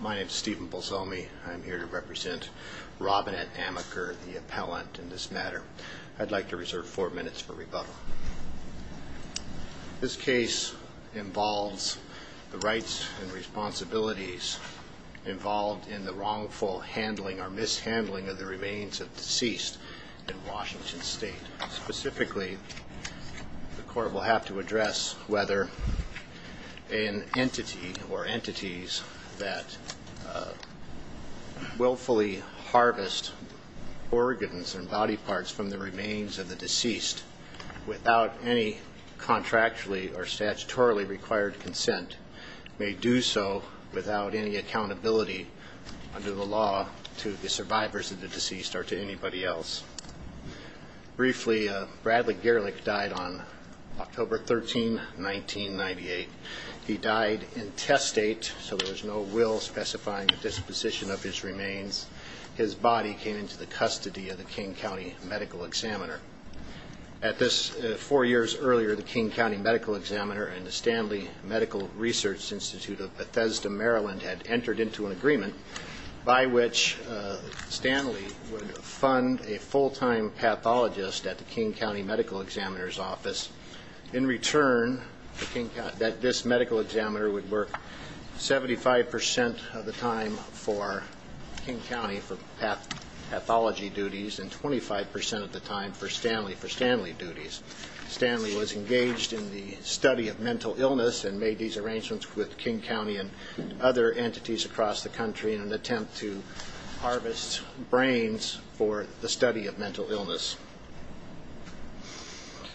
My name is Stephen Bolzomi. I am here to represent Robinette Amaker, the appellant in this matter. I'd like to reserve four minutes for rebuttal. This case involves the rights and responsibilities involved in the wrongful handling or mishandling of the remains of deceased in Washington State. Specifically, the court will have to address whether an entity or entities that willfully harvest organs and body parts from the remains of the deceased without any contractually or statutorily required consent may do so without any accountability under the law to the survivors of the deceased or to anybody else. Briefly, Bradley Gerlich died on October 13, 1998. He died intestate, so there was no will specifying the disposition of his remains. His body came into the custody of the King County Medical Examiner. At this, four years earlier, the King County Medical Examiner and the Stanley Medical Research Institute of Bethesda, Maryland had entered into an agreement by which Stanley would fund a full-time pathologist at the King County Medical Examiner's office. In return, this medical examiner would work 75% of the time for King County for pathology duties and 25% of the time for Stanley duties. Stanley was engaged in the study of mental illness and made these arrangements with King County and other entities across the country in an attempt to harvest brains for the study of mental illness.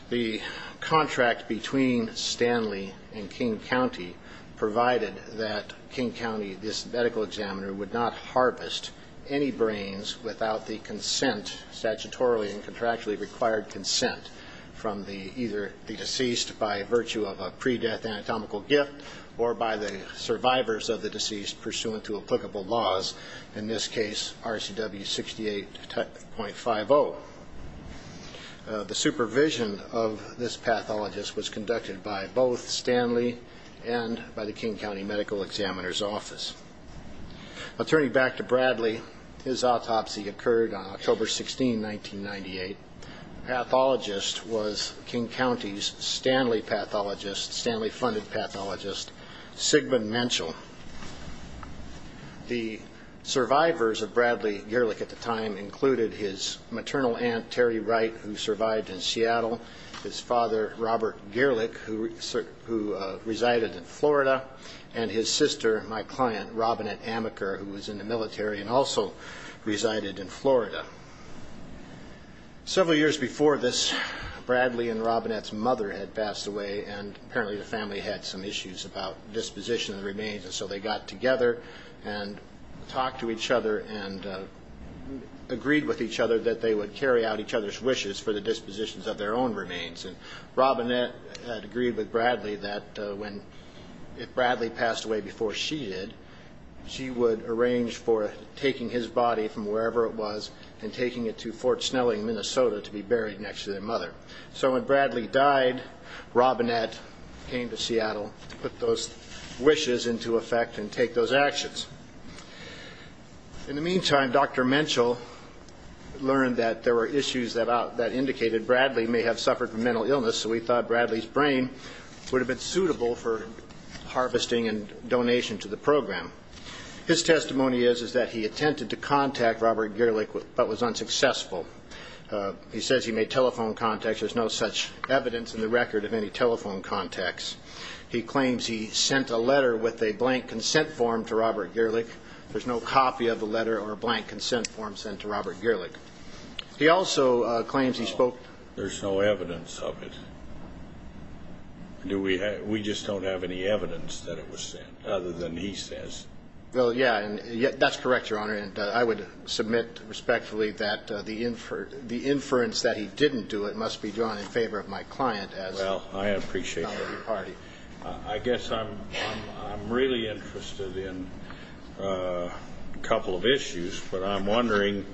The contract between Stanley and King County provided that King County, this medical examiner, would not harvest any brains without the consent, statutorily and contractually required consent, from either the deceased by virtue of a pre-death anatomical gift or by the survivors of the deceased pursuant to applicable laws, in this case RCW 68.50. The supervision of this pathologist was conducted by both Stanley and by the King County Medical Examiner's office. Now, turning back to Bradley, his autopsy occurred on October 16, 1998. The pathologist was King County's Stanley funded pathologist, Sigmund Menschel. The survivors of Bradley Gerlich at the time included his maternal aunt, Terry Wright, who survived in Seattle, his father, Robert Gerlich, who resided in Florida, and his sister, my client, Robinette Amaker, who was in the military and also resided in Florida. Several years before this, Bradley and Robinette's mother had passed away and apparently the family had some issues about disposition of the remains. So they got together and talked to each other and agreed with each other that they would carry out each other's wishes for the dispositions of their own remains. Robinette had agreed with Bradley that if Bradley passed away before she did, she would arrange for taking his body from wherever it was and taking it to Fort Snelling, Minnesota, to be buried next to their mother. So when Bradley died, Robinette came to Seattle to put those wishes into effect and take those actions. In the meantime, Dr. Menschel learned that there were issues that indicated Bradley may have suffered from mental illness, so he thought Bradley's brain would have been suitable for harvesting and donation to the program. His testimony is that he attempted to contact Robert Gerlich but was unsuccessful. He says he made telephone contacts. There's no such evidence in the record of any telephone contacts. He claims he sent a letter with a blank consent form to Robert Gerlich. There's no copy of the letter or a blank consent form sent to Robert Gerlich. He also claims he spoke... There's no evidence of it. We just don't have any evidence that it was sent other than he says. Well, yeah, that's correct, Your Honor, and I would submit respectfully that the inference that he didn't do it must be drawn in favor of my client as... Well, I appreciate that. I guess I'm really interested in a couple of issues, but I'm wondering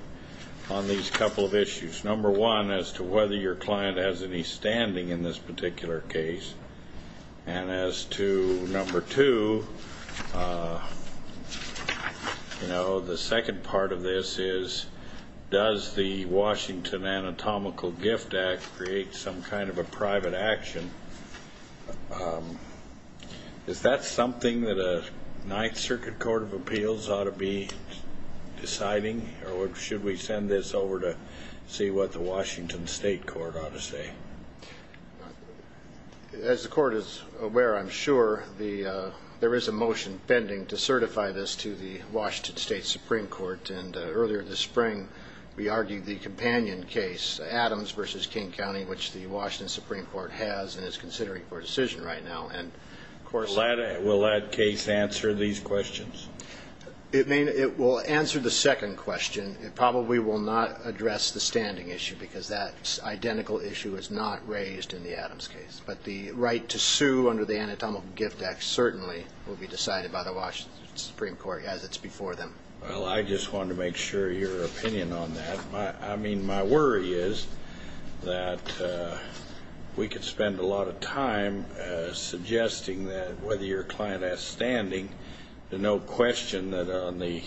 on these couple of issues. Number one, as to whether your client has any standing in this particular case, and as to number two, you know, the second part of this is, does the Washington Anatomical Gift Act create some kind of a private action? Is that something that a Ninth Circuit Court of Appeals ought to be deciding, or should we send this over to see what the Washington State Court ought to say? As the Court is aware, I'm sure there is a motion pending to certify this to the Washington State Supreme Court, and earlier this spring we argued the companion case, Adams v. King County, which the Washington Supreme Court has and is considering for a decision right now, and of course... Will that case answer these questions? It will answer the second question. It probably will not address the standing issue because that identical issue is not raised in the Adams case, but the right to sue under the Anatomical Gift Act certainly will be decided by the Washington Supreme Court as it's before them. Well, I just wanted to make sure your opinion on that. I mean, my worry is that we could spend a lot of time suggesting that whether your client has standing, there's no question that on the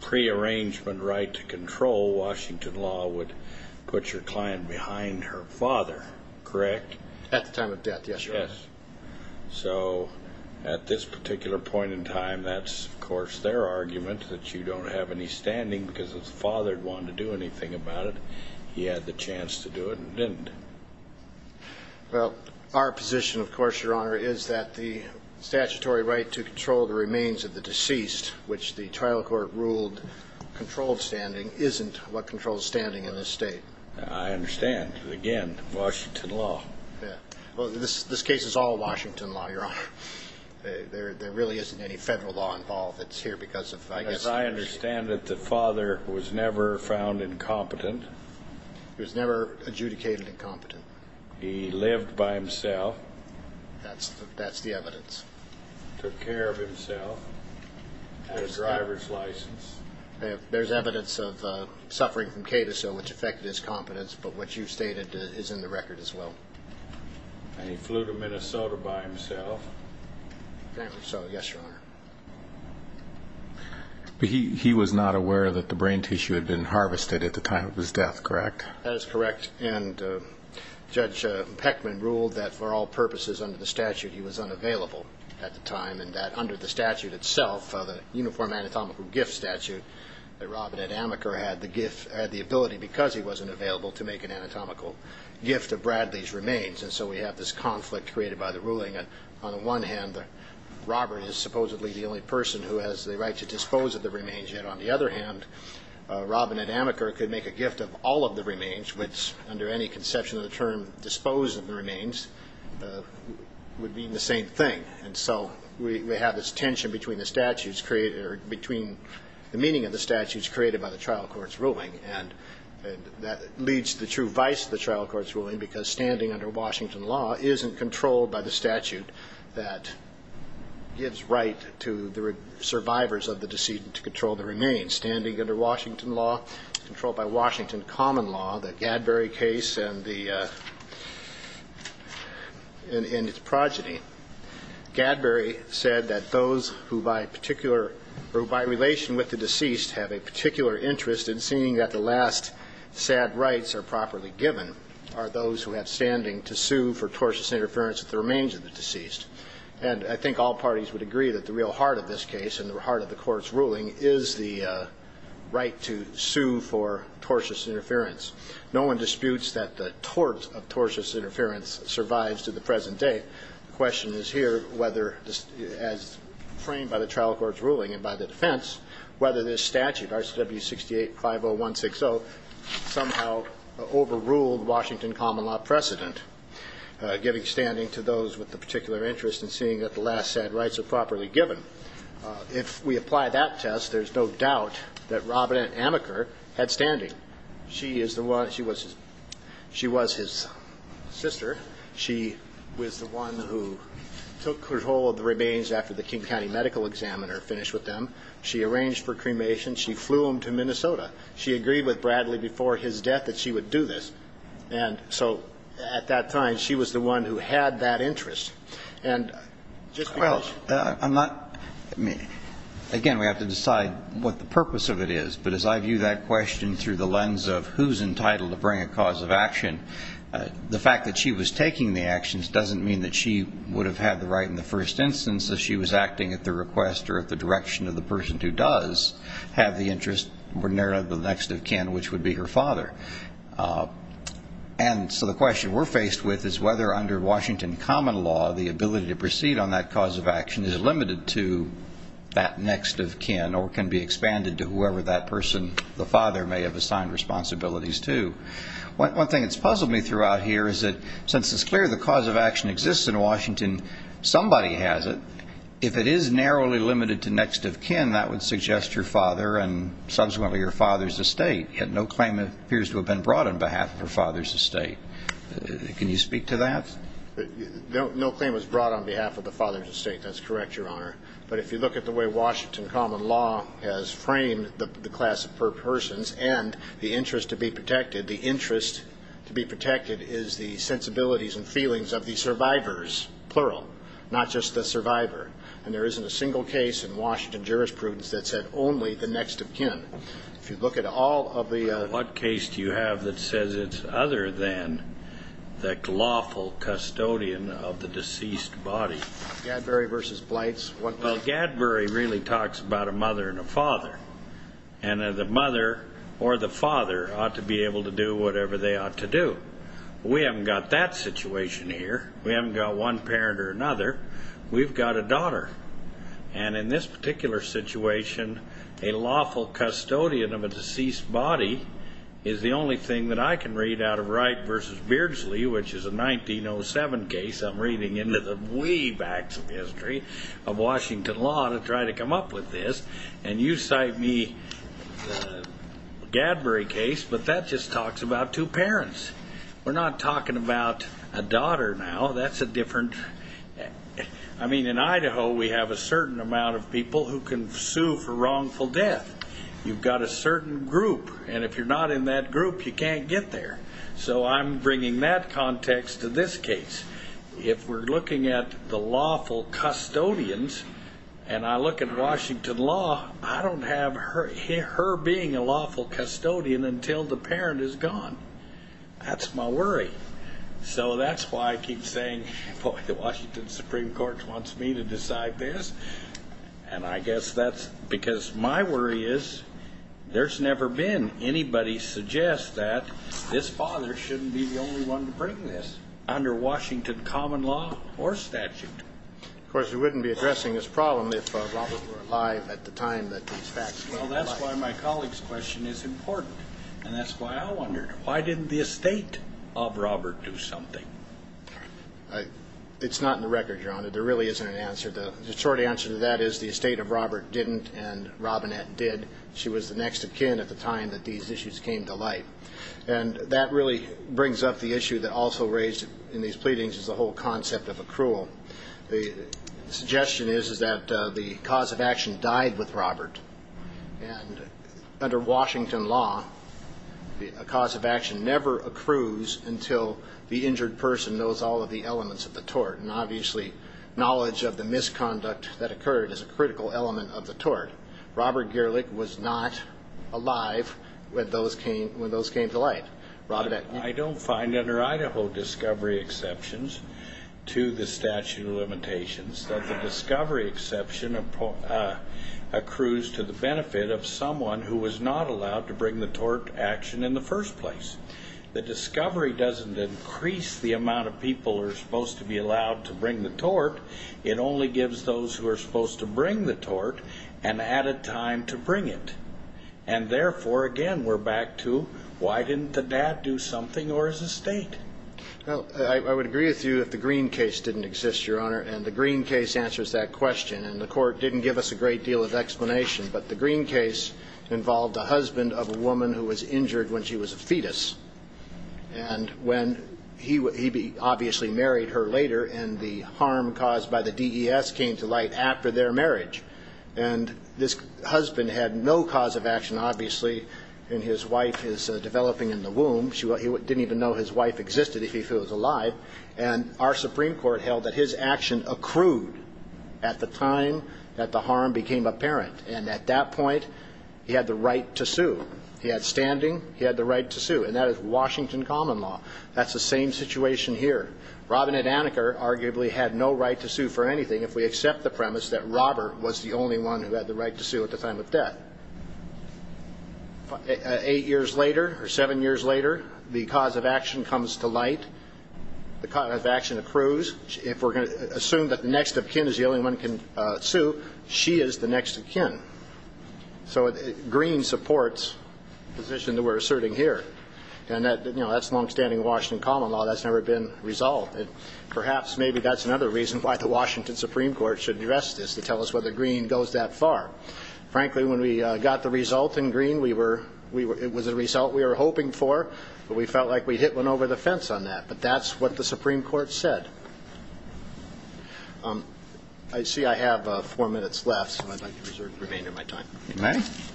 prearrangement right to control, Washington law would put your client behind her father, correct? At the time of death, yes, Your Honor. So at this particular point in time, that's, of course, their argument, that you don't have any standing because his father wanted to do anything about it. He had the chance to do it and didn't. Well, our position, of course, Your Honor, is that the statutory right to control the remains of the deceased, which the trial court ruled controlled standing, isn't what controls standing in this state. I understand. Again, Washington law. Yeah. Well, this case is all Washington law, Your Honor. There really isn't any federal law involved. It's here because of, I guess... As I understand it, the father was never found incompetent. He was never adjudicated incompetent. He lived by himself. That's the evidence. Took care of himself. Had a driver's license. There's evidence of suffering from K-2, which affected his competence, but what you stated is in the record as well. And he flew to Minnesota by himself. So, yes, Your Honor. But he was not aware that the brain tissue had been harvested at the time of his death, correct? That is correct. And Judge Peckman ruled that for all purposes under the statute he was unavailable at the time and that under the statute itself, the Uniform Anatomical Gift Statute, that Robert Ed Amaker had the ability, because he wasn't available, to make an anatomical gift of Bradley's remains. And so we have this conflict created by the ruling. On the one hand, Robert is supposedly the only person who has the right to dispose of the remains, yet on the other hand, Robert Ed Amaker could make a gift of all of the remains, which under any conception of the term dispose of the remains would mean the same thing. And so we have this tension between the meaning of the statutes created by the trial court's ruling, and that leads to the true vice of the trial court's ruling, because standing under Washington law isn't controlled by the statute that gives right to the survivors of the decedent to control the remains. Standing under Washington law, controlled by Washington common law, the Gadbury case and its progeny, Gadbury said that those who by relation with the deceased have a particular interest in seeing that the last sad rights are properly given are those who have standing to sue for tortious interference with the remains of the deceased. And I think all parties would agree that the real heart of this case and the heart of the court's ruling is the right to sue for tortious interference. No one disputes that the tort of tortious interference survives to the present day. The question is here whether, as framed by the trial court's ruling and by the defense, whether this statute, RCW 6850160, somehow overruled Washington common law precedent, giving standing to those with a particular interest in seeing that the last sad rights are properly given. If we apply that test, there's no doubt that Robinette Amaker had standing. She was his sister. She was the one who took control of the remains after the King County medical examiner finished with them. She arranged for cremation. She flew them to Minnesota. She agreed with Bradley before his death that she would do this. And so at that time, she was the one who had that interest. And just because she was. Again, we have to decide what the purpose of it is. But as I view that question through the lens of who's entitled to bring a cause of action, the fact that she was taking the actions doesn't mean that she would have had the right in the first instance that she was acting at the request or at the direction of the person who does have the interest, ordinarily the next of kin, which would be her father. And so the question we're faced with is whether under Washington common law, the ability to proceed on that cause of action is limited to that next of kin or can be expanded to whoever that person, the father, may have assigned responsibilities to. One thing that's puzzled me throughout here is that since it's clear the cause of action exists in Washington, somebody has it. If it is narrowly limited to next of kin, that would suggest your father and subsequently your father's estate, yet no claim appears to have been brought on behalf of her father's estate. Can you speak to that? No claim was brought on behalf of the father's estate. That's correct, Your Honor. But if you look at the way Washington common law has framed the class of persons and the interest to be protected, the interest to be protected is the sensibilities and feelings of the survivors, plural, not just the survivor. And there isn't a single case in Washington jurisprudence that said only the next of kin. If you look at all of the other cases. What case do you have that says it's other than the lawful custodian of the deceased body? Gadbury v. Blights. Well, Gadbury really talks about a mother and a father, and the mother or the father ought to be able to do whatever they ought to do. We haven't got that situation here. We haven't got one parent or another. We've got a daughter. And in this particular situation, a lawful custodian of a deceased body is the only thing that I can read out of Wright v. Beardsley, which is a 1907 case. I'm reading into the wee backs of history of Washington law to try to come up with this. And you cite me Gadbury case, but that just talks about two parents. We're not talking about a daughter now. That's a different. I mean, in Idaho, we have a certain amount of people who can sue for wrongful death. You've got a certain group, and if you're not in that group, you can't get there. So I'm bringing that context to this case. If we're looking at the lawful custodians, and I look at Washington law, I don't have her being a lawful custodian until the parent is gone. That's my worry. So that's why I keep saying, boy, the Washington Supreme Court wants me to decide this. And I guess that's because my worry is there's never been anybody suggest that this father shouldn't be the only one to bring this. Under Washington common law or statute. Of course, we wouldn't be addressing this problem if Robert were alive at the time that these facts came to light. Well, that's why my colleague's question is important, and that's why I wondered. Why didn't the estate of Robert do something? It's not in the record, Your Honor. There really isn't an answer. The short answer to that is the estate of Robert didn't, and Robinette did. She was the next of kin at the time that these issues came to light. And that really brings up the issue that also raised in these pleadings is the whole concept of accrual. The suggestion is that the cause of action died with Robert, and under Washington law, a cause of action never accrues until the injured person knows all of the elements of the tort, and obviously knowledge of the misconduct that occurred is a critical element of the tort. Robert Gerlich was not alive when those came to light. Robinette. I don't find under Idaho discovery exceptions to the statute of limitations that the discovery exception accrues to the benefit of someone who was not allowed to bring the tort action in the first place. The discovery doesn't increase the amount of people who are supposed to be allowed to bring the tort. It only gives those who are supposed to bring the tort an added time to bring it, and therefore, again, we're back to why didn't the dad do something or his estate? Well, I would agree with you that the Green case didn't exist, Your Honor, and the Green case answers that question, and the court didn't give us a great deal of explanation, but the Green case involved the husband of a woman who was injured when she was a fetus, and when he obviously married her later and the harm caused by the DES came to light after their marriage, and this husband had no cause of action, obviously, and his wife is developing in the womb. He didn't even know his wife existed if he was alive, and our Supreme Court held that his action accrued at the time that the harm became apparent, and at that point he had the right to sue. He had standing. He had the right to sue, and that is Washington common law. That's the same situation here. Robinette Aniker arguably had no right to sue for anything if we accept the premise that Robert was the only one who had the right to sue at the time of death. Eight years later or seven years later, the cause of action comes to light. The cause of action accrues. If we're going to assume that the next of kin is the only one who can sue, she is the next of kin. So Green supports the position that we're asserting here, and that's longstanding Washington common law. That's never been resolved. Perhaps maybe that's another reason why the Washington Supreme Court should address this to tell us whether Green goes that far. Frankly, when we got the result in Green, it was a result we were hoping for, but we felt like we hit one over the fence on that, but that's what the Supreme Court said. I see I have four minutes left, so I'd like to reserve the remainder of my time. If you may. If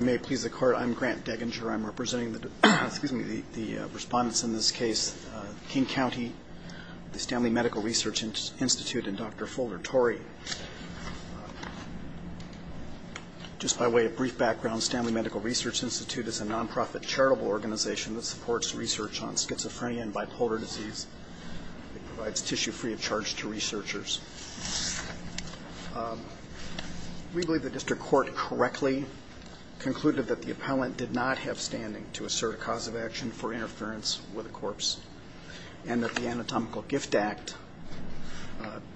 you may please the Court, I'm Grant Deginger. I'm representing the respondents in this case, King County, the Stanley Medical Research Institute, and Dr. Folger Torrey. Just by way of brief background, Stanley Medical Research Institute is a nonprofit charitable organization that supports research on schizophrenia and bipolar disease. It provides tissue free of charge to researchers. We believe the district court correctly concluded that the appellant did not have standing to assert a cause of action for interference with a corpse, and that the Anatomical Gift Act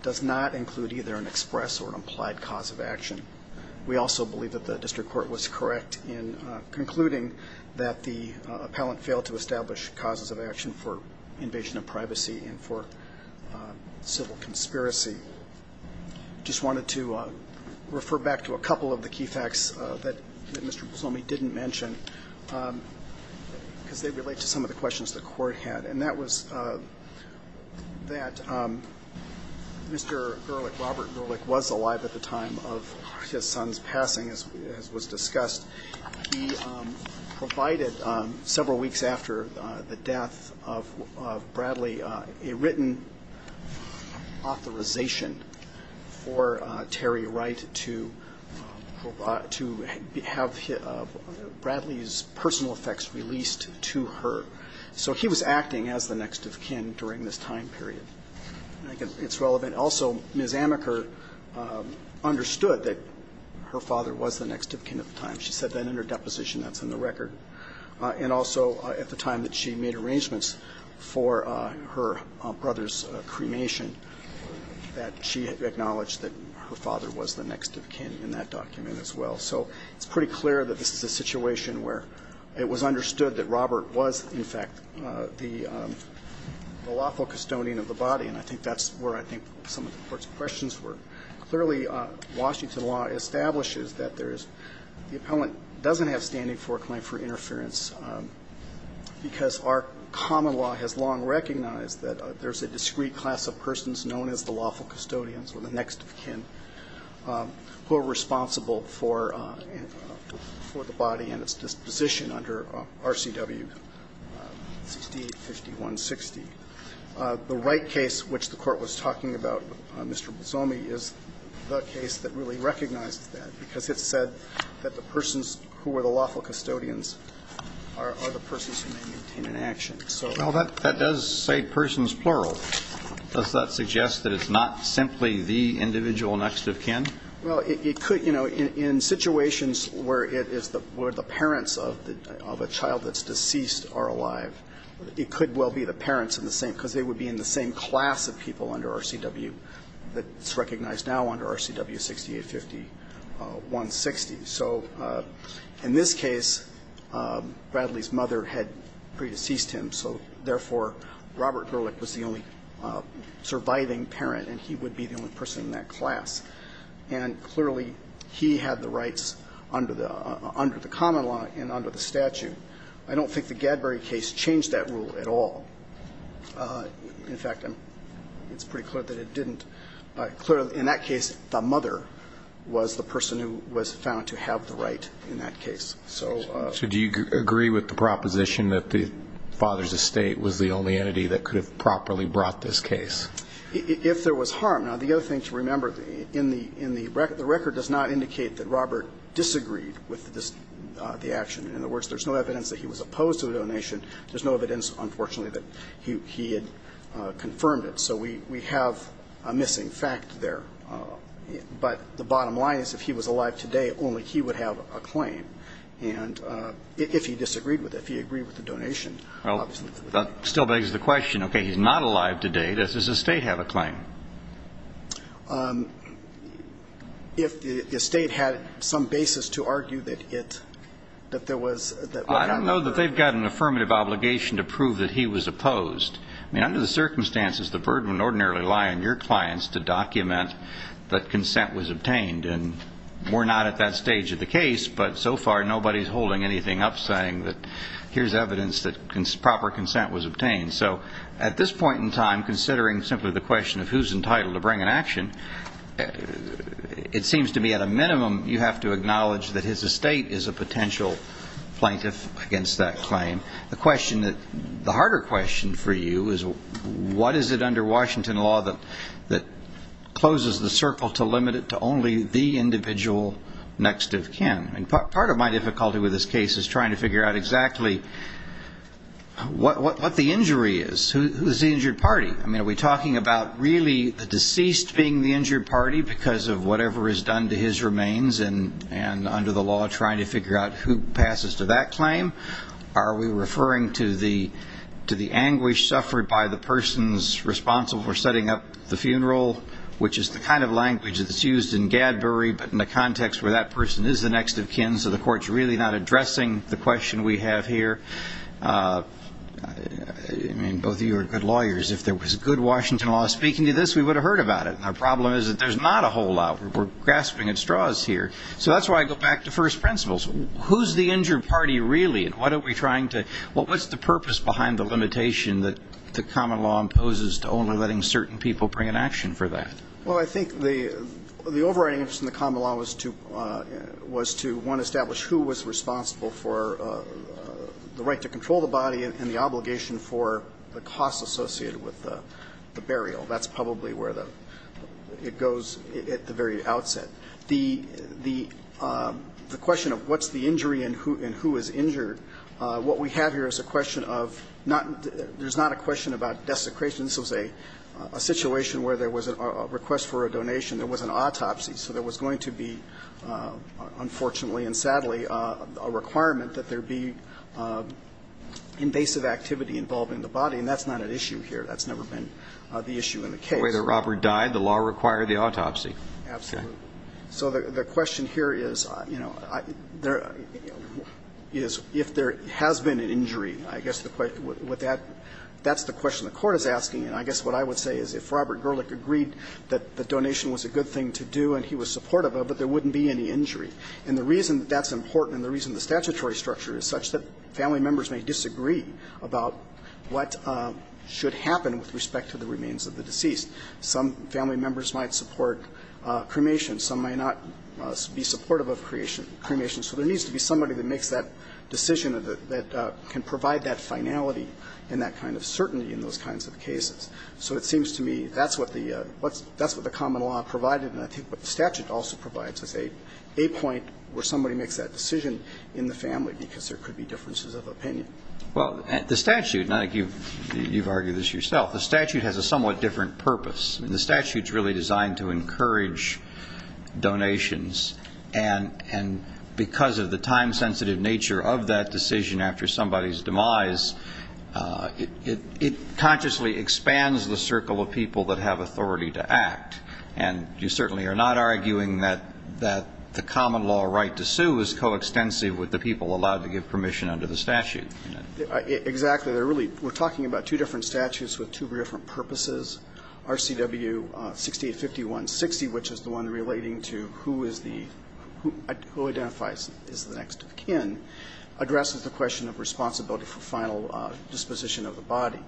does not include either an express or implied cause of action. We also believe that the district court was correct in concluding that the appellant failed to establish causes of action for invasion of privacy and for civil conspiracy. I just wanted to refer back to a couple of the key facts that Mr. Busomi didn't mention, because they relate to some of the questions the Court had. And that was that Mr. Gerlich, Robert Gerlich, was alive at the time of his son's passing, as was discussed. He provided several weeks after the death of Bradley a written authorization for Terry Wright to have Bradley's personal effects released to her. So he was acting as the next of kin during this time period. I think it's relevant. Also, Ms. Amaker understood that her father was the next of kin at the time. She said that in her deposition that's in the record. And also at the time that she made arrangements for her brother's cremation, that she acknowledged that her father was the next of kin in that document as well. So it's pretty clear that this is a situation where it was understood that Robert was, in fact, the lawful custodian of the body. And I think that's where I think some of the Court's questions were. Clearly, Washington law establishes that there's the appellant doesn't have standing for a claim for interference because our common law has long recognized that there's a discrete class of persons known as the lawful custodians or the next of kin who are responsible for the body and its disposition under RCW 6851.60. The Wright case, which the Court was talking about, Mr. Bosomi, is the case that really recognized that because it said that the persons who were the lawful custodians are the persons who may maintain an action. Well, that does say persons plural. Does that suggest that it's not simply the individual next of kin? Well, it could. You know, in situations where the parents of a child that's deceased are alive, it could well be the parents are the same because they would be in the same class of people under RCW that's recognized now under RCW 6851.60. So in this case, Bradley's mother had pre-deceased him, so therefore, Robert Gerlich was the only surviving parent and he would be the only person in that class. And clearly, he had the rights under the common law and under the statute. I don't think the Gadbury case changed that rule at all. In fact, it's pretty clear that it didn't. Clearly, in that case, the mother was the person who was found to have the right in that case. So do you agree with the proposition that the father's estate was the only entity that could have properly brought this case? If there was harm. Now, the other thing to remember, in the record, the record does not indicate that Robert disagreed with the action. In other words, there's no evidence that he was opposed to the donation. There's no evidence, unfortunately, that he had confirmed it. So we have a missing fact there. But the bottom line is, if he was alive today, only he would have a claim, if he disagreed with it, if he agreed with the donation. Well, that still begs the question, okay, he's not alive today. Does his estate have a claim? If the estate had some basis to argue that it, that there was... I don't know that they've got an affirmative obligation to prove that he was opposed. I mean, under the circumstances, the burden would ordinarily lie on your clients to document that consent was obtained. And we're not at that stage of the case, but so far nobody's holding anything up saying that here's evidence that proper consent was obtained. So at this point in time, considering simply the question of who's entitled to bring an action, it seems to me at a minimum you have to acknowledge that his estate is a potential plaintiff against that claim. The question that, the harder question for you is what is it under Washington law that closes the circle to limit it to only the individual next of kin? And part of my difficulty with this case is trying to figure out exactly what the injury is. Who's the injured party? I mean, are we talking about really the deceased being the injured party because of whatever is done to his remains, and under the law trying to figure out who passes to that claim? Are we referring to the anguish suffered by the person responsible for setting up the funeral, which is the kind of language that's used in Gadbury, but in the context where that person is the next of kin, so the court's really not addressing the question we have here? I mean, both of you are good lawyers. If there was good Washington law speaking to this, we would have heard about it. Our problem is that there's not a whole lot. We're grasping at straws here. So that's why I go back to first principles. Who's the injured party really, and why don't we try to – what's the purpose behind the limitation that the common law imposes to only letting certain people bring an action for that? Well, I think the overriding interest in the common law was to, one, establish who was responsible for the right to control the body and the obligation for the costs associated with the burial. That's probably where it goes at the very outset. The question of what's the injury and who is injured, what we have here is a question of – there's not a question about desecration. This was a situation where there was a request for a donation. There was an autopsy. So there was going to be, unfortunately and sadly, a requirement that there be invasive activity involving the body, and that's not an issue here. That's never been the issue in the case. The way that Robert died, the law required the autopsy. Absolutely. So the question here is, you know, is if there has been an injury, I guess that's the question the Court is asking. And I guess what I would say is if Robert Gerlich agreed that the donation was a good thing to do and he was supportive of it, there wouldn't be any injury. And the reason that that's important and the reason the statutory structure is such that family members may disagree about what should happen with respect to the remains of the deceased. Some family members might support cremation. Some might not be supportive of cremation. So there needs to be somebody that makes that decision that can provide that finality and that kind of certainty in those kinds of cases. So it seems to me that's what the common law provided, and I think what the statute also provides is a point where somebody makes that decision in the family because there could be differences of opinion. Well, the statute, and I think you've argued this yourself, the statute has a somewhat different purpose. The statute is really designed to encourage donations, and because of the time-sensitive nature of that decision after somebody's demise, it consciously expands the circle of people that have authority to act. And you certainly are not arguing that the common law right to sue is coextensive with the people allowed to give permission under the statute. Exactly. We're talking about two different statutes with two different purposes. RCW 6851.60, which is the one relating to who identifies as the next of kin, addresses the question of responsibility for final disposition of the body.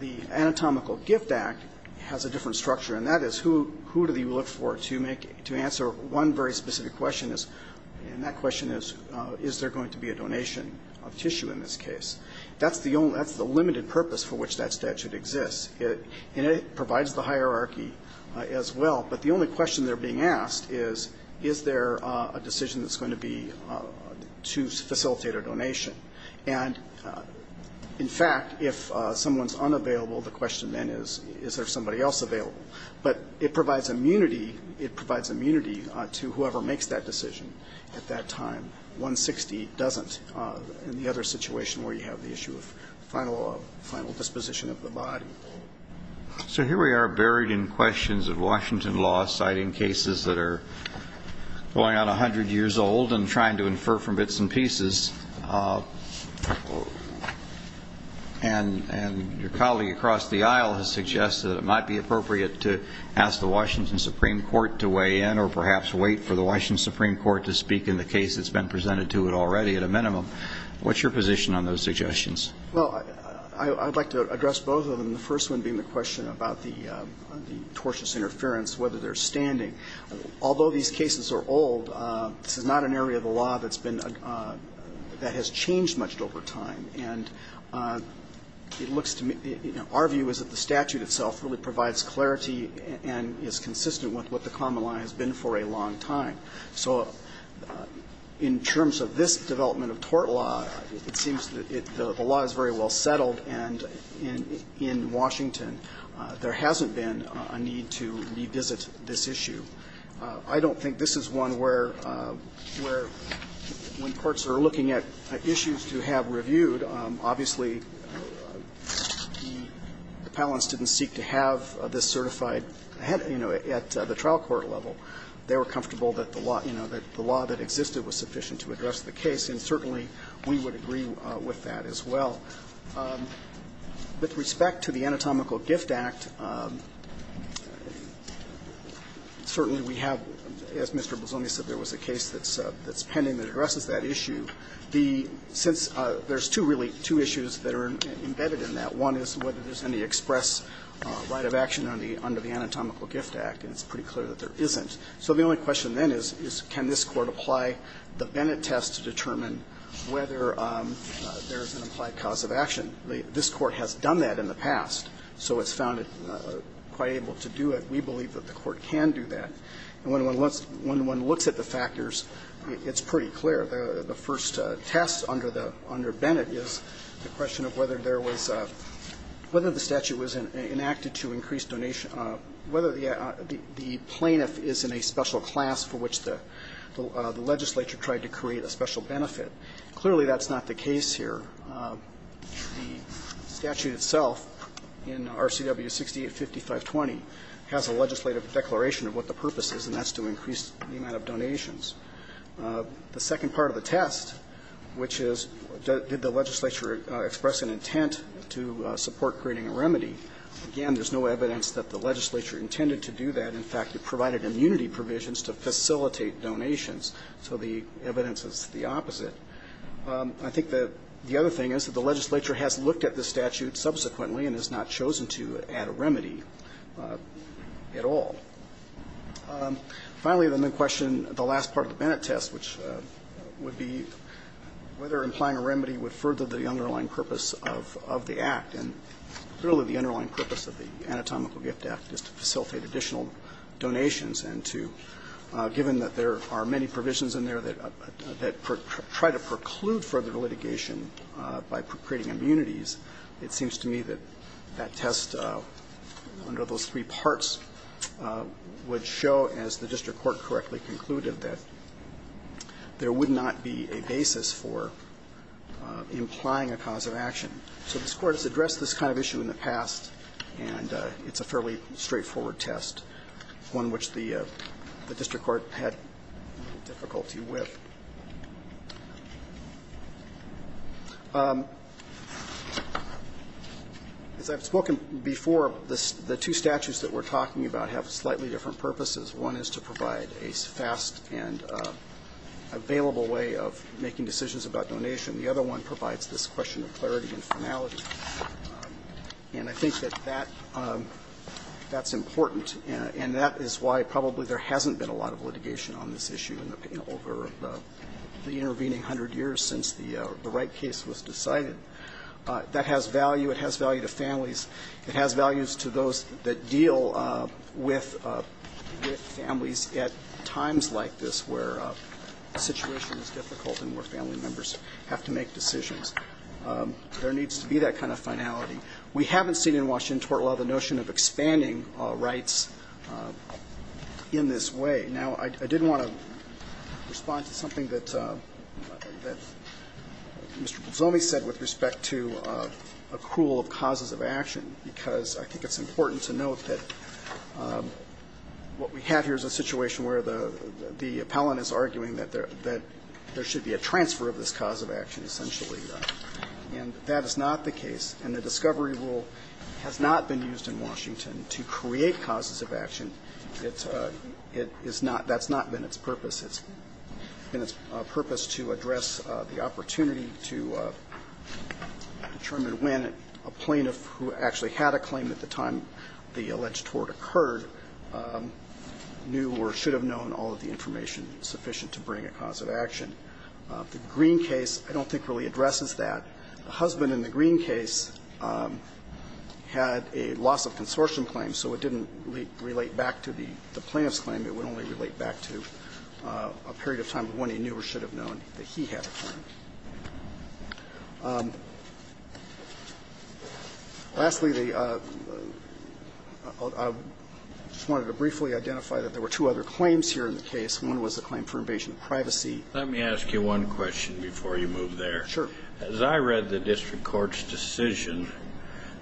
The Anatomical Gift Act has a different structure, and that is, who do you look for to answer one very specific question, and that question is, is there going to be a donation of tissue in this case? That's the limited purpose for which that statute exists, and it provides the hierarchy as well. But the only question that's being asked is, is there a decision that's going to be to facilitate a donation? And, in fact, if someone's unavailable, the question then is, is there somebody else available? But it provides immunity to whoever makes that decision at that time. 160 doesn't in the other situation where you have the issue of final disposition of the body. So here we are buried in questions of Washington law, citing cases that are going on 100 years old and trying to infer from bits and pieces. And your colleague across the aisle has suggested it might be appropriate to ask the Washington Supreme Court to weigh in or perhaps wait for the Washington Supreme Court to speak in the case that's been presented to it already at a minimum. What's your position on those suggestions? Well, I'd like to address both of them, the first one being the question about the tortious interference, whether they're standing. Although these cases are old, this is not an area of the law that has changed much over time. And it looks to me, our view is that the statute itself really provides clarity and is consistent with what the common law has been for a long time. So in terms of this development of tort law, it seems that the law is very well settled, and in Washington there hasn't been a need to revisit this issue. I don't think this is one where courts are looking at issues to have reviewed. Obviously, the appellants didn't seek to have this certified at the trial court level. They were comfortable that the law that existed was sufficient to address the case, and certainly we would agree with that as well. With respect to the Anatomical Gift Act, certainly we have, as Mr. Bozzone said, there was a case that's pending that addresses that issue. Since there's two, really, two issues that are embedded in that. One is whether there's any express right of action under the Anatomical Gift Act, and it's pretty clear that there isn't. So the only question then is, can this Court apply the Bennett test to determine whether there's an implied cause of action? This Court has done that in the past, so it's found it quite able to do it. We believe that the Court can do that. And when one looks at the factors, it's pretty clear. The first test under Bennett is the question of whether there was a – whether the statute was enacted to increase donation – whether the plaintiff is in a special class for which the legislature tried to create a special benefit. Clearly, that's not the case here. The statute itself in RCW 685520 has a legislative declaration of what the purpose is, and that's to increase the amount of donations. The second part of the test, which is did the legislature express an intent to support creating a remedy, again, there's no evidence that the legislature intended to do that. In fact, it provided immunity provisions to facilitate donations. So the evidence is the opposite. I think the other thing is that the legislature has looked at this statute subsequently and has not chosen to add a remedy at all. Finally, the main question, the last part of the Bennett test, which would be whether implying a remedy would further the underlying purpose of the Act. And clearly, the underlying purpose of the Anatomical Gift Act is to facilitate additional donations and to – given that there are many provisions in there that try to preclude further litigation by creating immunities, it seems to me that that test under those three parts would show, as the district court correctly concluded, that there would not be a basis for implying a cause of action. So this Court has addressed this kind of issue in the past, and it's a fairly straightforward test, one which the district court had difficulty with. As I've spoken before, the two statutes that we're talking about have slightly different purposes. One is to provide a fast and available way of making decisions about donation. The other one provides this question of clarity and finality. And I think that that's important, and that is why probably there hasn't been a lot of litigation on this issue in the – over the intervening hundred years since the Wright case was decided. That has value. It has value to families. It has values to those that deal with families at times like this where a situation is difficult and where family members have to make decisions. There needs to be that kind of finality. We haven't seen in Washington tort law the notion of expanding rights in this way. Now, I did want to respond to something that Mr. Pizzoli said with respect to accrual of causes of action, because I think it's important to note that what we have here is a situation where the appellant is arguing that there should be a transfer of this cause of action, essentially. And that is not the case. And the discovery rule has not been used in Washington to create causes of action. It's not – that's not been its purpose. It's been its purpose to address the opportunity to determine when a plaintiff who actually had a claim at the time the alleged tort occurred knew or should have known all of the information sufficient to bring a cause of action. The Green case I don't think really addresses that. The husband in the Green case had a loss of consortium claim, so it didn't relate back to the plaintiff's claim. It would only relate back to a period of time when he knew or should have known that he had a claim. Lastly, the – I just wanted to briefly identify that there were two other claims here in the case. One was the claim for invasion of privacy. Let me ask you one question before you move there. Sure. As I read the district court's decision,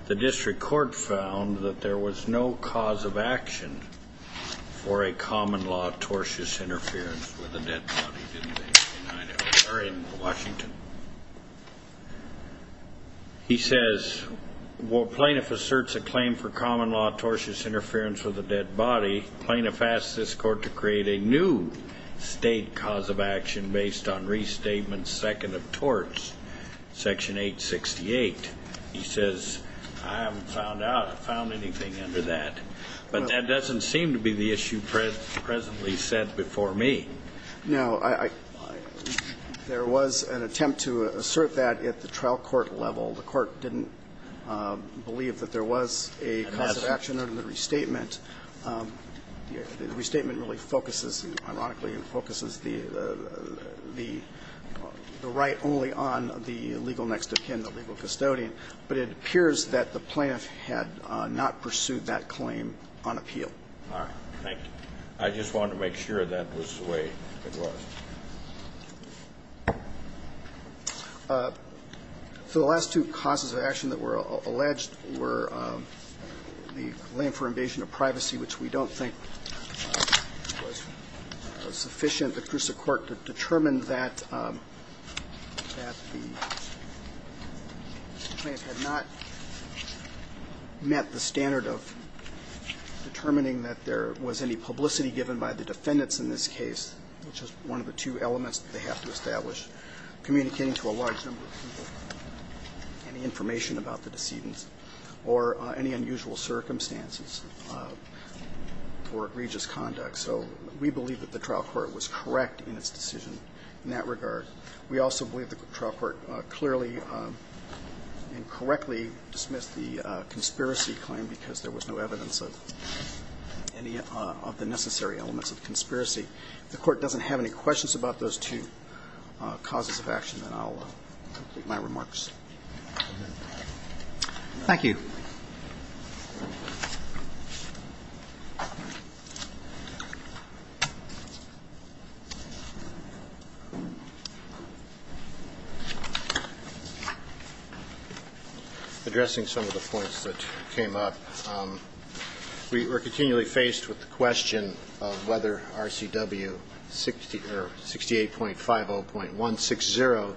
the district court found that there was no cause of action for a common-law tortious interference with a dead body, didn't there, Mr. Washington? He says, well, plaintiff asserts a claim for common-law tortious interference with a dead body. Plaintiff asks this court to create a new state cause of action based on restatement second of torts, section 868. He says, I haven't found out. I haven't found anything under that. But that doesn't seem to be the issue presently set before me. No. There was an attempt to assert that at the trial court level. The court didn't believe that there was a cause of action under the restatement. The restatement really focuses, ironically, focuses the right only on the legal next of kin, the legal custodian. But it appears that the plaintiff had not pursued that claim on appeal. All right. Thank you. I just wanted to make sure that was the way it was. So the last two causes of action that were alleged were the claim for invasion of privacy, which we don't think was sufficient. The Crusa court determined that the plaintiff had not met the standard of determining that there was any publicity given by the defendants in this case, which is one of the two elements that they have to establish, communicating to a large number of people any information about the decedents or any unusual circumstances for egregious conduct. So we believe that the trial court was correct in its decision in that regard. We also believe the trial court clearly and correctly dismissed the conspiracy claim because there was no evidence of any of the necessary elements of conspiracy. If the Court doesn't have any questions about those two causes of action, then I'll complete my remarks. Thank you. Addressing some of the points that came up, we were continually faced with the question of whether RCW 68.50.160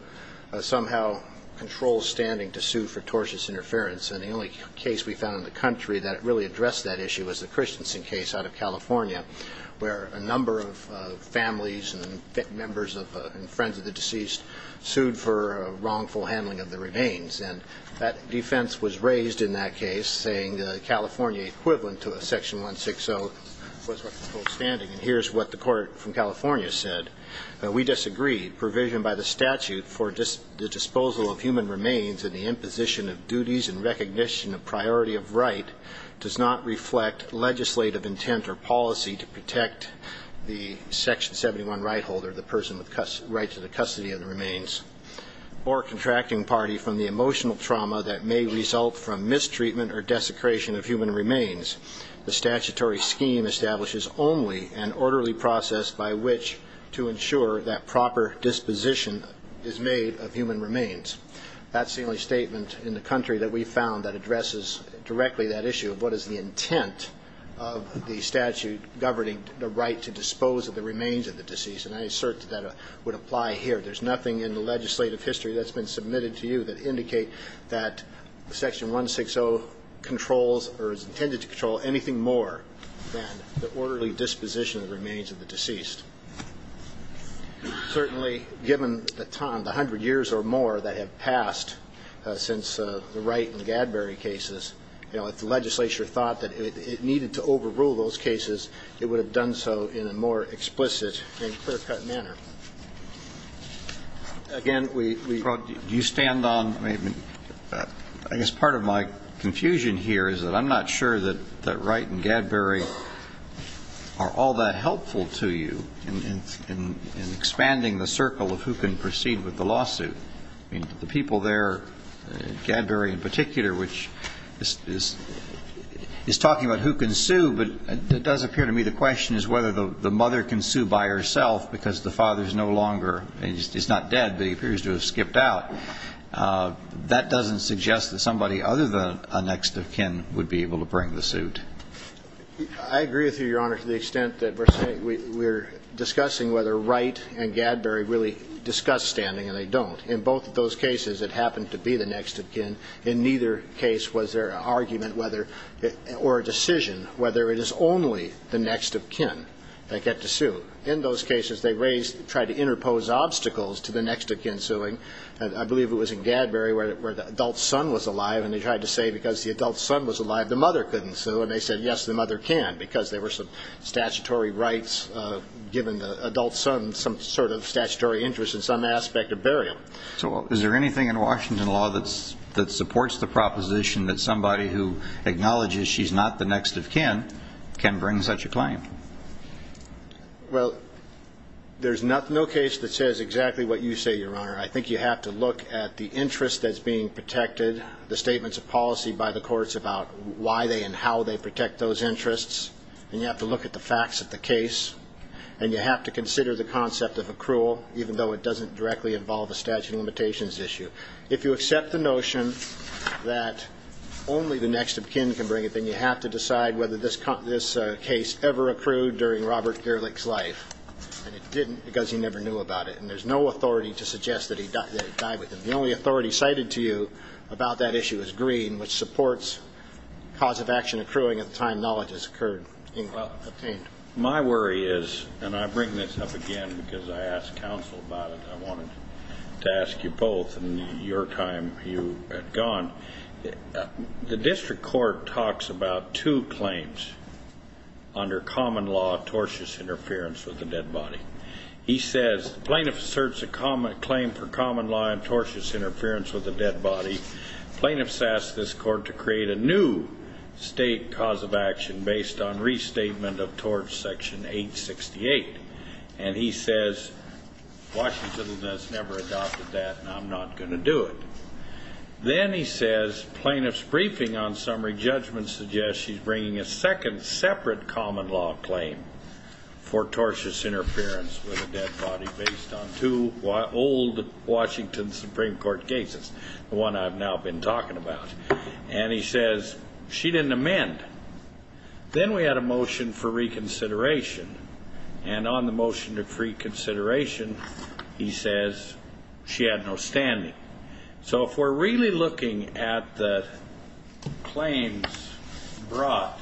somehow controls standing to sue for tortious interference. And the only case we found in the country that really addressed that issue was the Christensen case out of California, where a number of families and members and friends of the deceased sued for wrongful handling of the remains. And that defense was raised in that case, saying that California equivalent to Section 160 was what controls standing. And here's what the court from California said. We disagreed. Provision by the statute for the disposal of human remains and the imposition of duties and recognition of priority of right does not reflect legislative intent or policy to protect the Section 71 right holder, the person with rights to the custody of the remains, or contracting party from the emotional trauma that may result from mistreatment or desecration of human remains. The statutory scheme establishes only an orderly process by which to ensure that proper disposition is made of human remains. That's the only statement in the country that we found that addresses directly that issue of what is the intent of the statute governing the right to dispose of the remains of the deceased. And I assert that that would apply here. There's nothing in the legislative history that's been submitted to you that indicates that Section 160 controls or is intended to control anything more than the orderly disposition of the remains of the deceased. Certainly, given the time, the hundred years or more that have passed since the Wright and Gadbury cases, you know, if the legislature thought that it needed to overrule those cases, it would have done so in a more explicit and clear-cut manner. Again, we... Do you stand on... I guess part of my confusion here is that I'm not sure that Wright and Gadbury are all that helpful to you in expanding the circle of who can proceed with the lawsuit. I mean, the people there, Gadbury in particular, which is talking about who can sue, but it does appear to me the question is whether the mother can sue by herself because the father is no longer... He's not dead, but he appears to have skipped out. That doesn't suggest that somebody other than a next of kin would be able to bring the suit. I agree with you, Your Honor, to the extent that we're discussing whether Wright and Gadbury really discuss standing, and they don't. In both of those cases, it happened to be the next of kin. In neither case was there an argument or a decision whether it is only the next of kin that get to sue. In those cases, they tried to interpose obstacles to the next of kin suing. I believe it was in Gadbury where the adult son was alive, and they tried to say because the adult son was alive, the mother couldn't sue, and they said, yes, the mother can because there were some statutory rights given the adult son some sort of statutory interest in some aspect of burial. So is there anything in Washington law that supports the proposition that somebody who acknowledges she's not the next of kin can bring such a claim? Well, there's no case that says exactly what you say, Your Honor. I think you have to look at the interest that's being protected, the statements of policy by the courts about why they and how they protect those interests, and you have to look at the facts of the case, and you have to consider the concept of accrual, even though it doesn't directly involve a statute of limitations issue. If you accept the notion that only the next of kin can bring it, then you have to decide whether this case ever accrued during Robert Gerlich's life, and it didn't because he never knew about it, and there's no authority to suggest that he died with him. The only authority cited to you about that issue is green, which supports cause of action accruing at the time knowledge has occurred. My worry is, and I bring this up again because I asked counsel about it, I wanted to ask you both in your time you had gone, the district court talks about two claims under common law tortious interference with the dead body. He says plaintiff asserts a claim for common law and tortious interference with the dead body. Plaintiffs ask this court to create a new state cause of action based on restatement of tort section 868, and he says Washington has never adopted that, and I'm not going to do it. Then he says plaintiff's briefing on summary judgment suggests she's bringing a second separate common law claim for tortious interference with the dead body based on two old Washington Supreme Court cases, the one I've now been talking about, and he says she didn't amend. Then we had a motion for reconsideration, and on the motion for reconsideration, he says she had no standing. So if we're really looking at the claims brought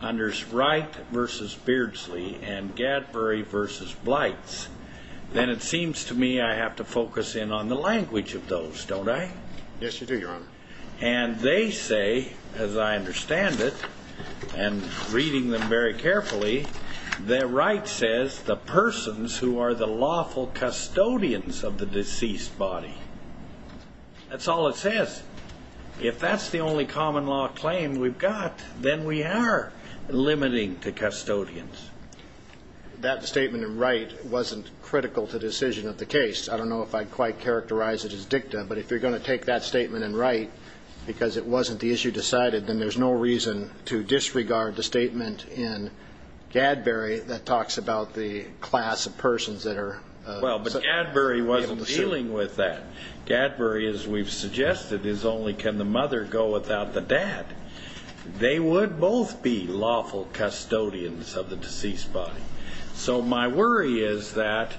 under Wright v. Beardsley and Gadbury v. Blights, then it seems to me I have to focus in on the language of those, don't I? Yes, you do, Your Honor. And they say, as I understand it, and reading them very carefully, that Wright says the persons who are the lawful custodians of the deceased body. That's all it says. If that's the only common law claim we've got, then we are limiting to custodians. That statement in Wright wasn't critical to decision of the case. I don't know if I'd quite characterize it as dicta, but if you're going to take that statement in Wright because it wasn't the issue decided, then there's no reason to disregard the statement in Gadbury that talks about the class of persons that are able to sue. Well, but Gadbury wasn't dealing with that. Gadbury, as we've suggested, is only can the mother go without the dad. They would both be lawful custodians of the deceased body. So my worry is that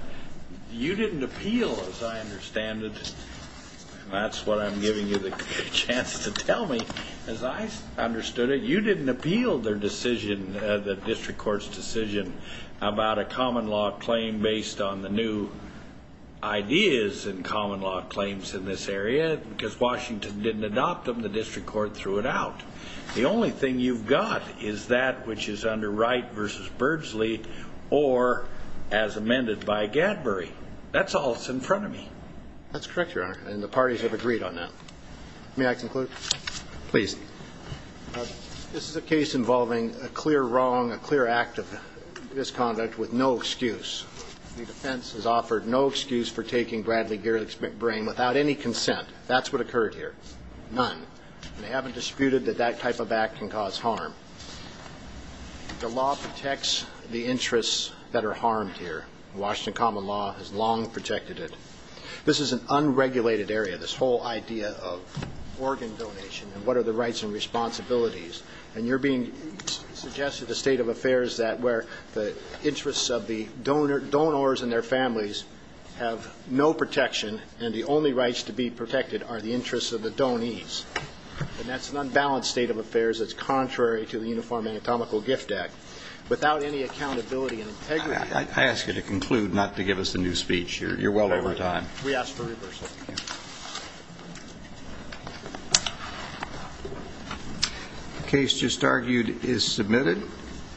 you didn't appeal, as I understand it, and that's what I'm giving you the chance to tell me. As I understood it, you didn't appeal their decision, the district court's decision, about a common law claim based on the new ideas in common law claims in this area. Because Washington didn't adopt them, the district court threw it out. The only thing you've got is that which is under Wright v. Bursley or as amended by Gadbury. That's all that's in front of me. That's correct, Your Honor, and the parties have agreed on that. May I conclude? Please. This is a case involving a clear wrong, a clear act of misconduct with no excuse. The defense has offered no excuse for taking Bradley Gerlich's brain without any consent. That's what occurred here. None. And they haven't disputed that that type of act can cause harm. The law protects the interests that are harmed here. Washington common law has long protected it. This is an unregulated area, this whole idea of organ donation and what are the rights and responsibilities. And you're being suggested a state of affairs that where the interests of the donors and their families have no protection and the only rights to be protected are the interests of the donees. And that's an unbalanced state of affairs that's contrary to the Uniform Anatomical Gift Act. Without any accountability and integrity. I ask you to conclude, not to give us a new speech. You're well over time. We ask for reversal. The case just argued is submitted.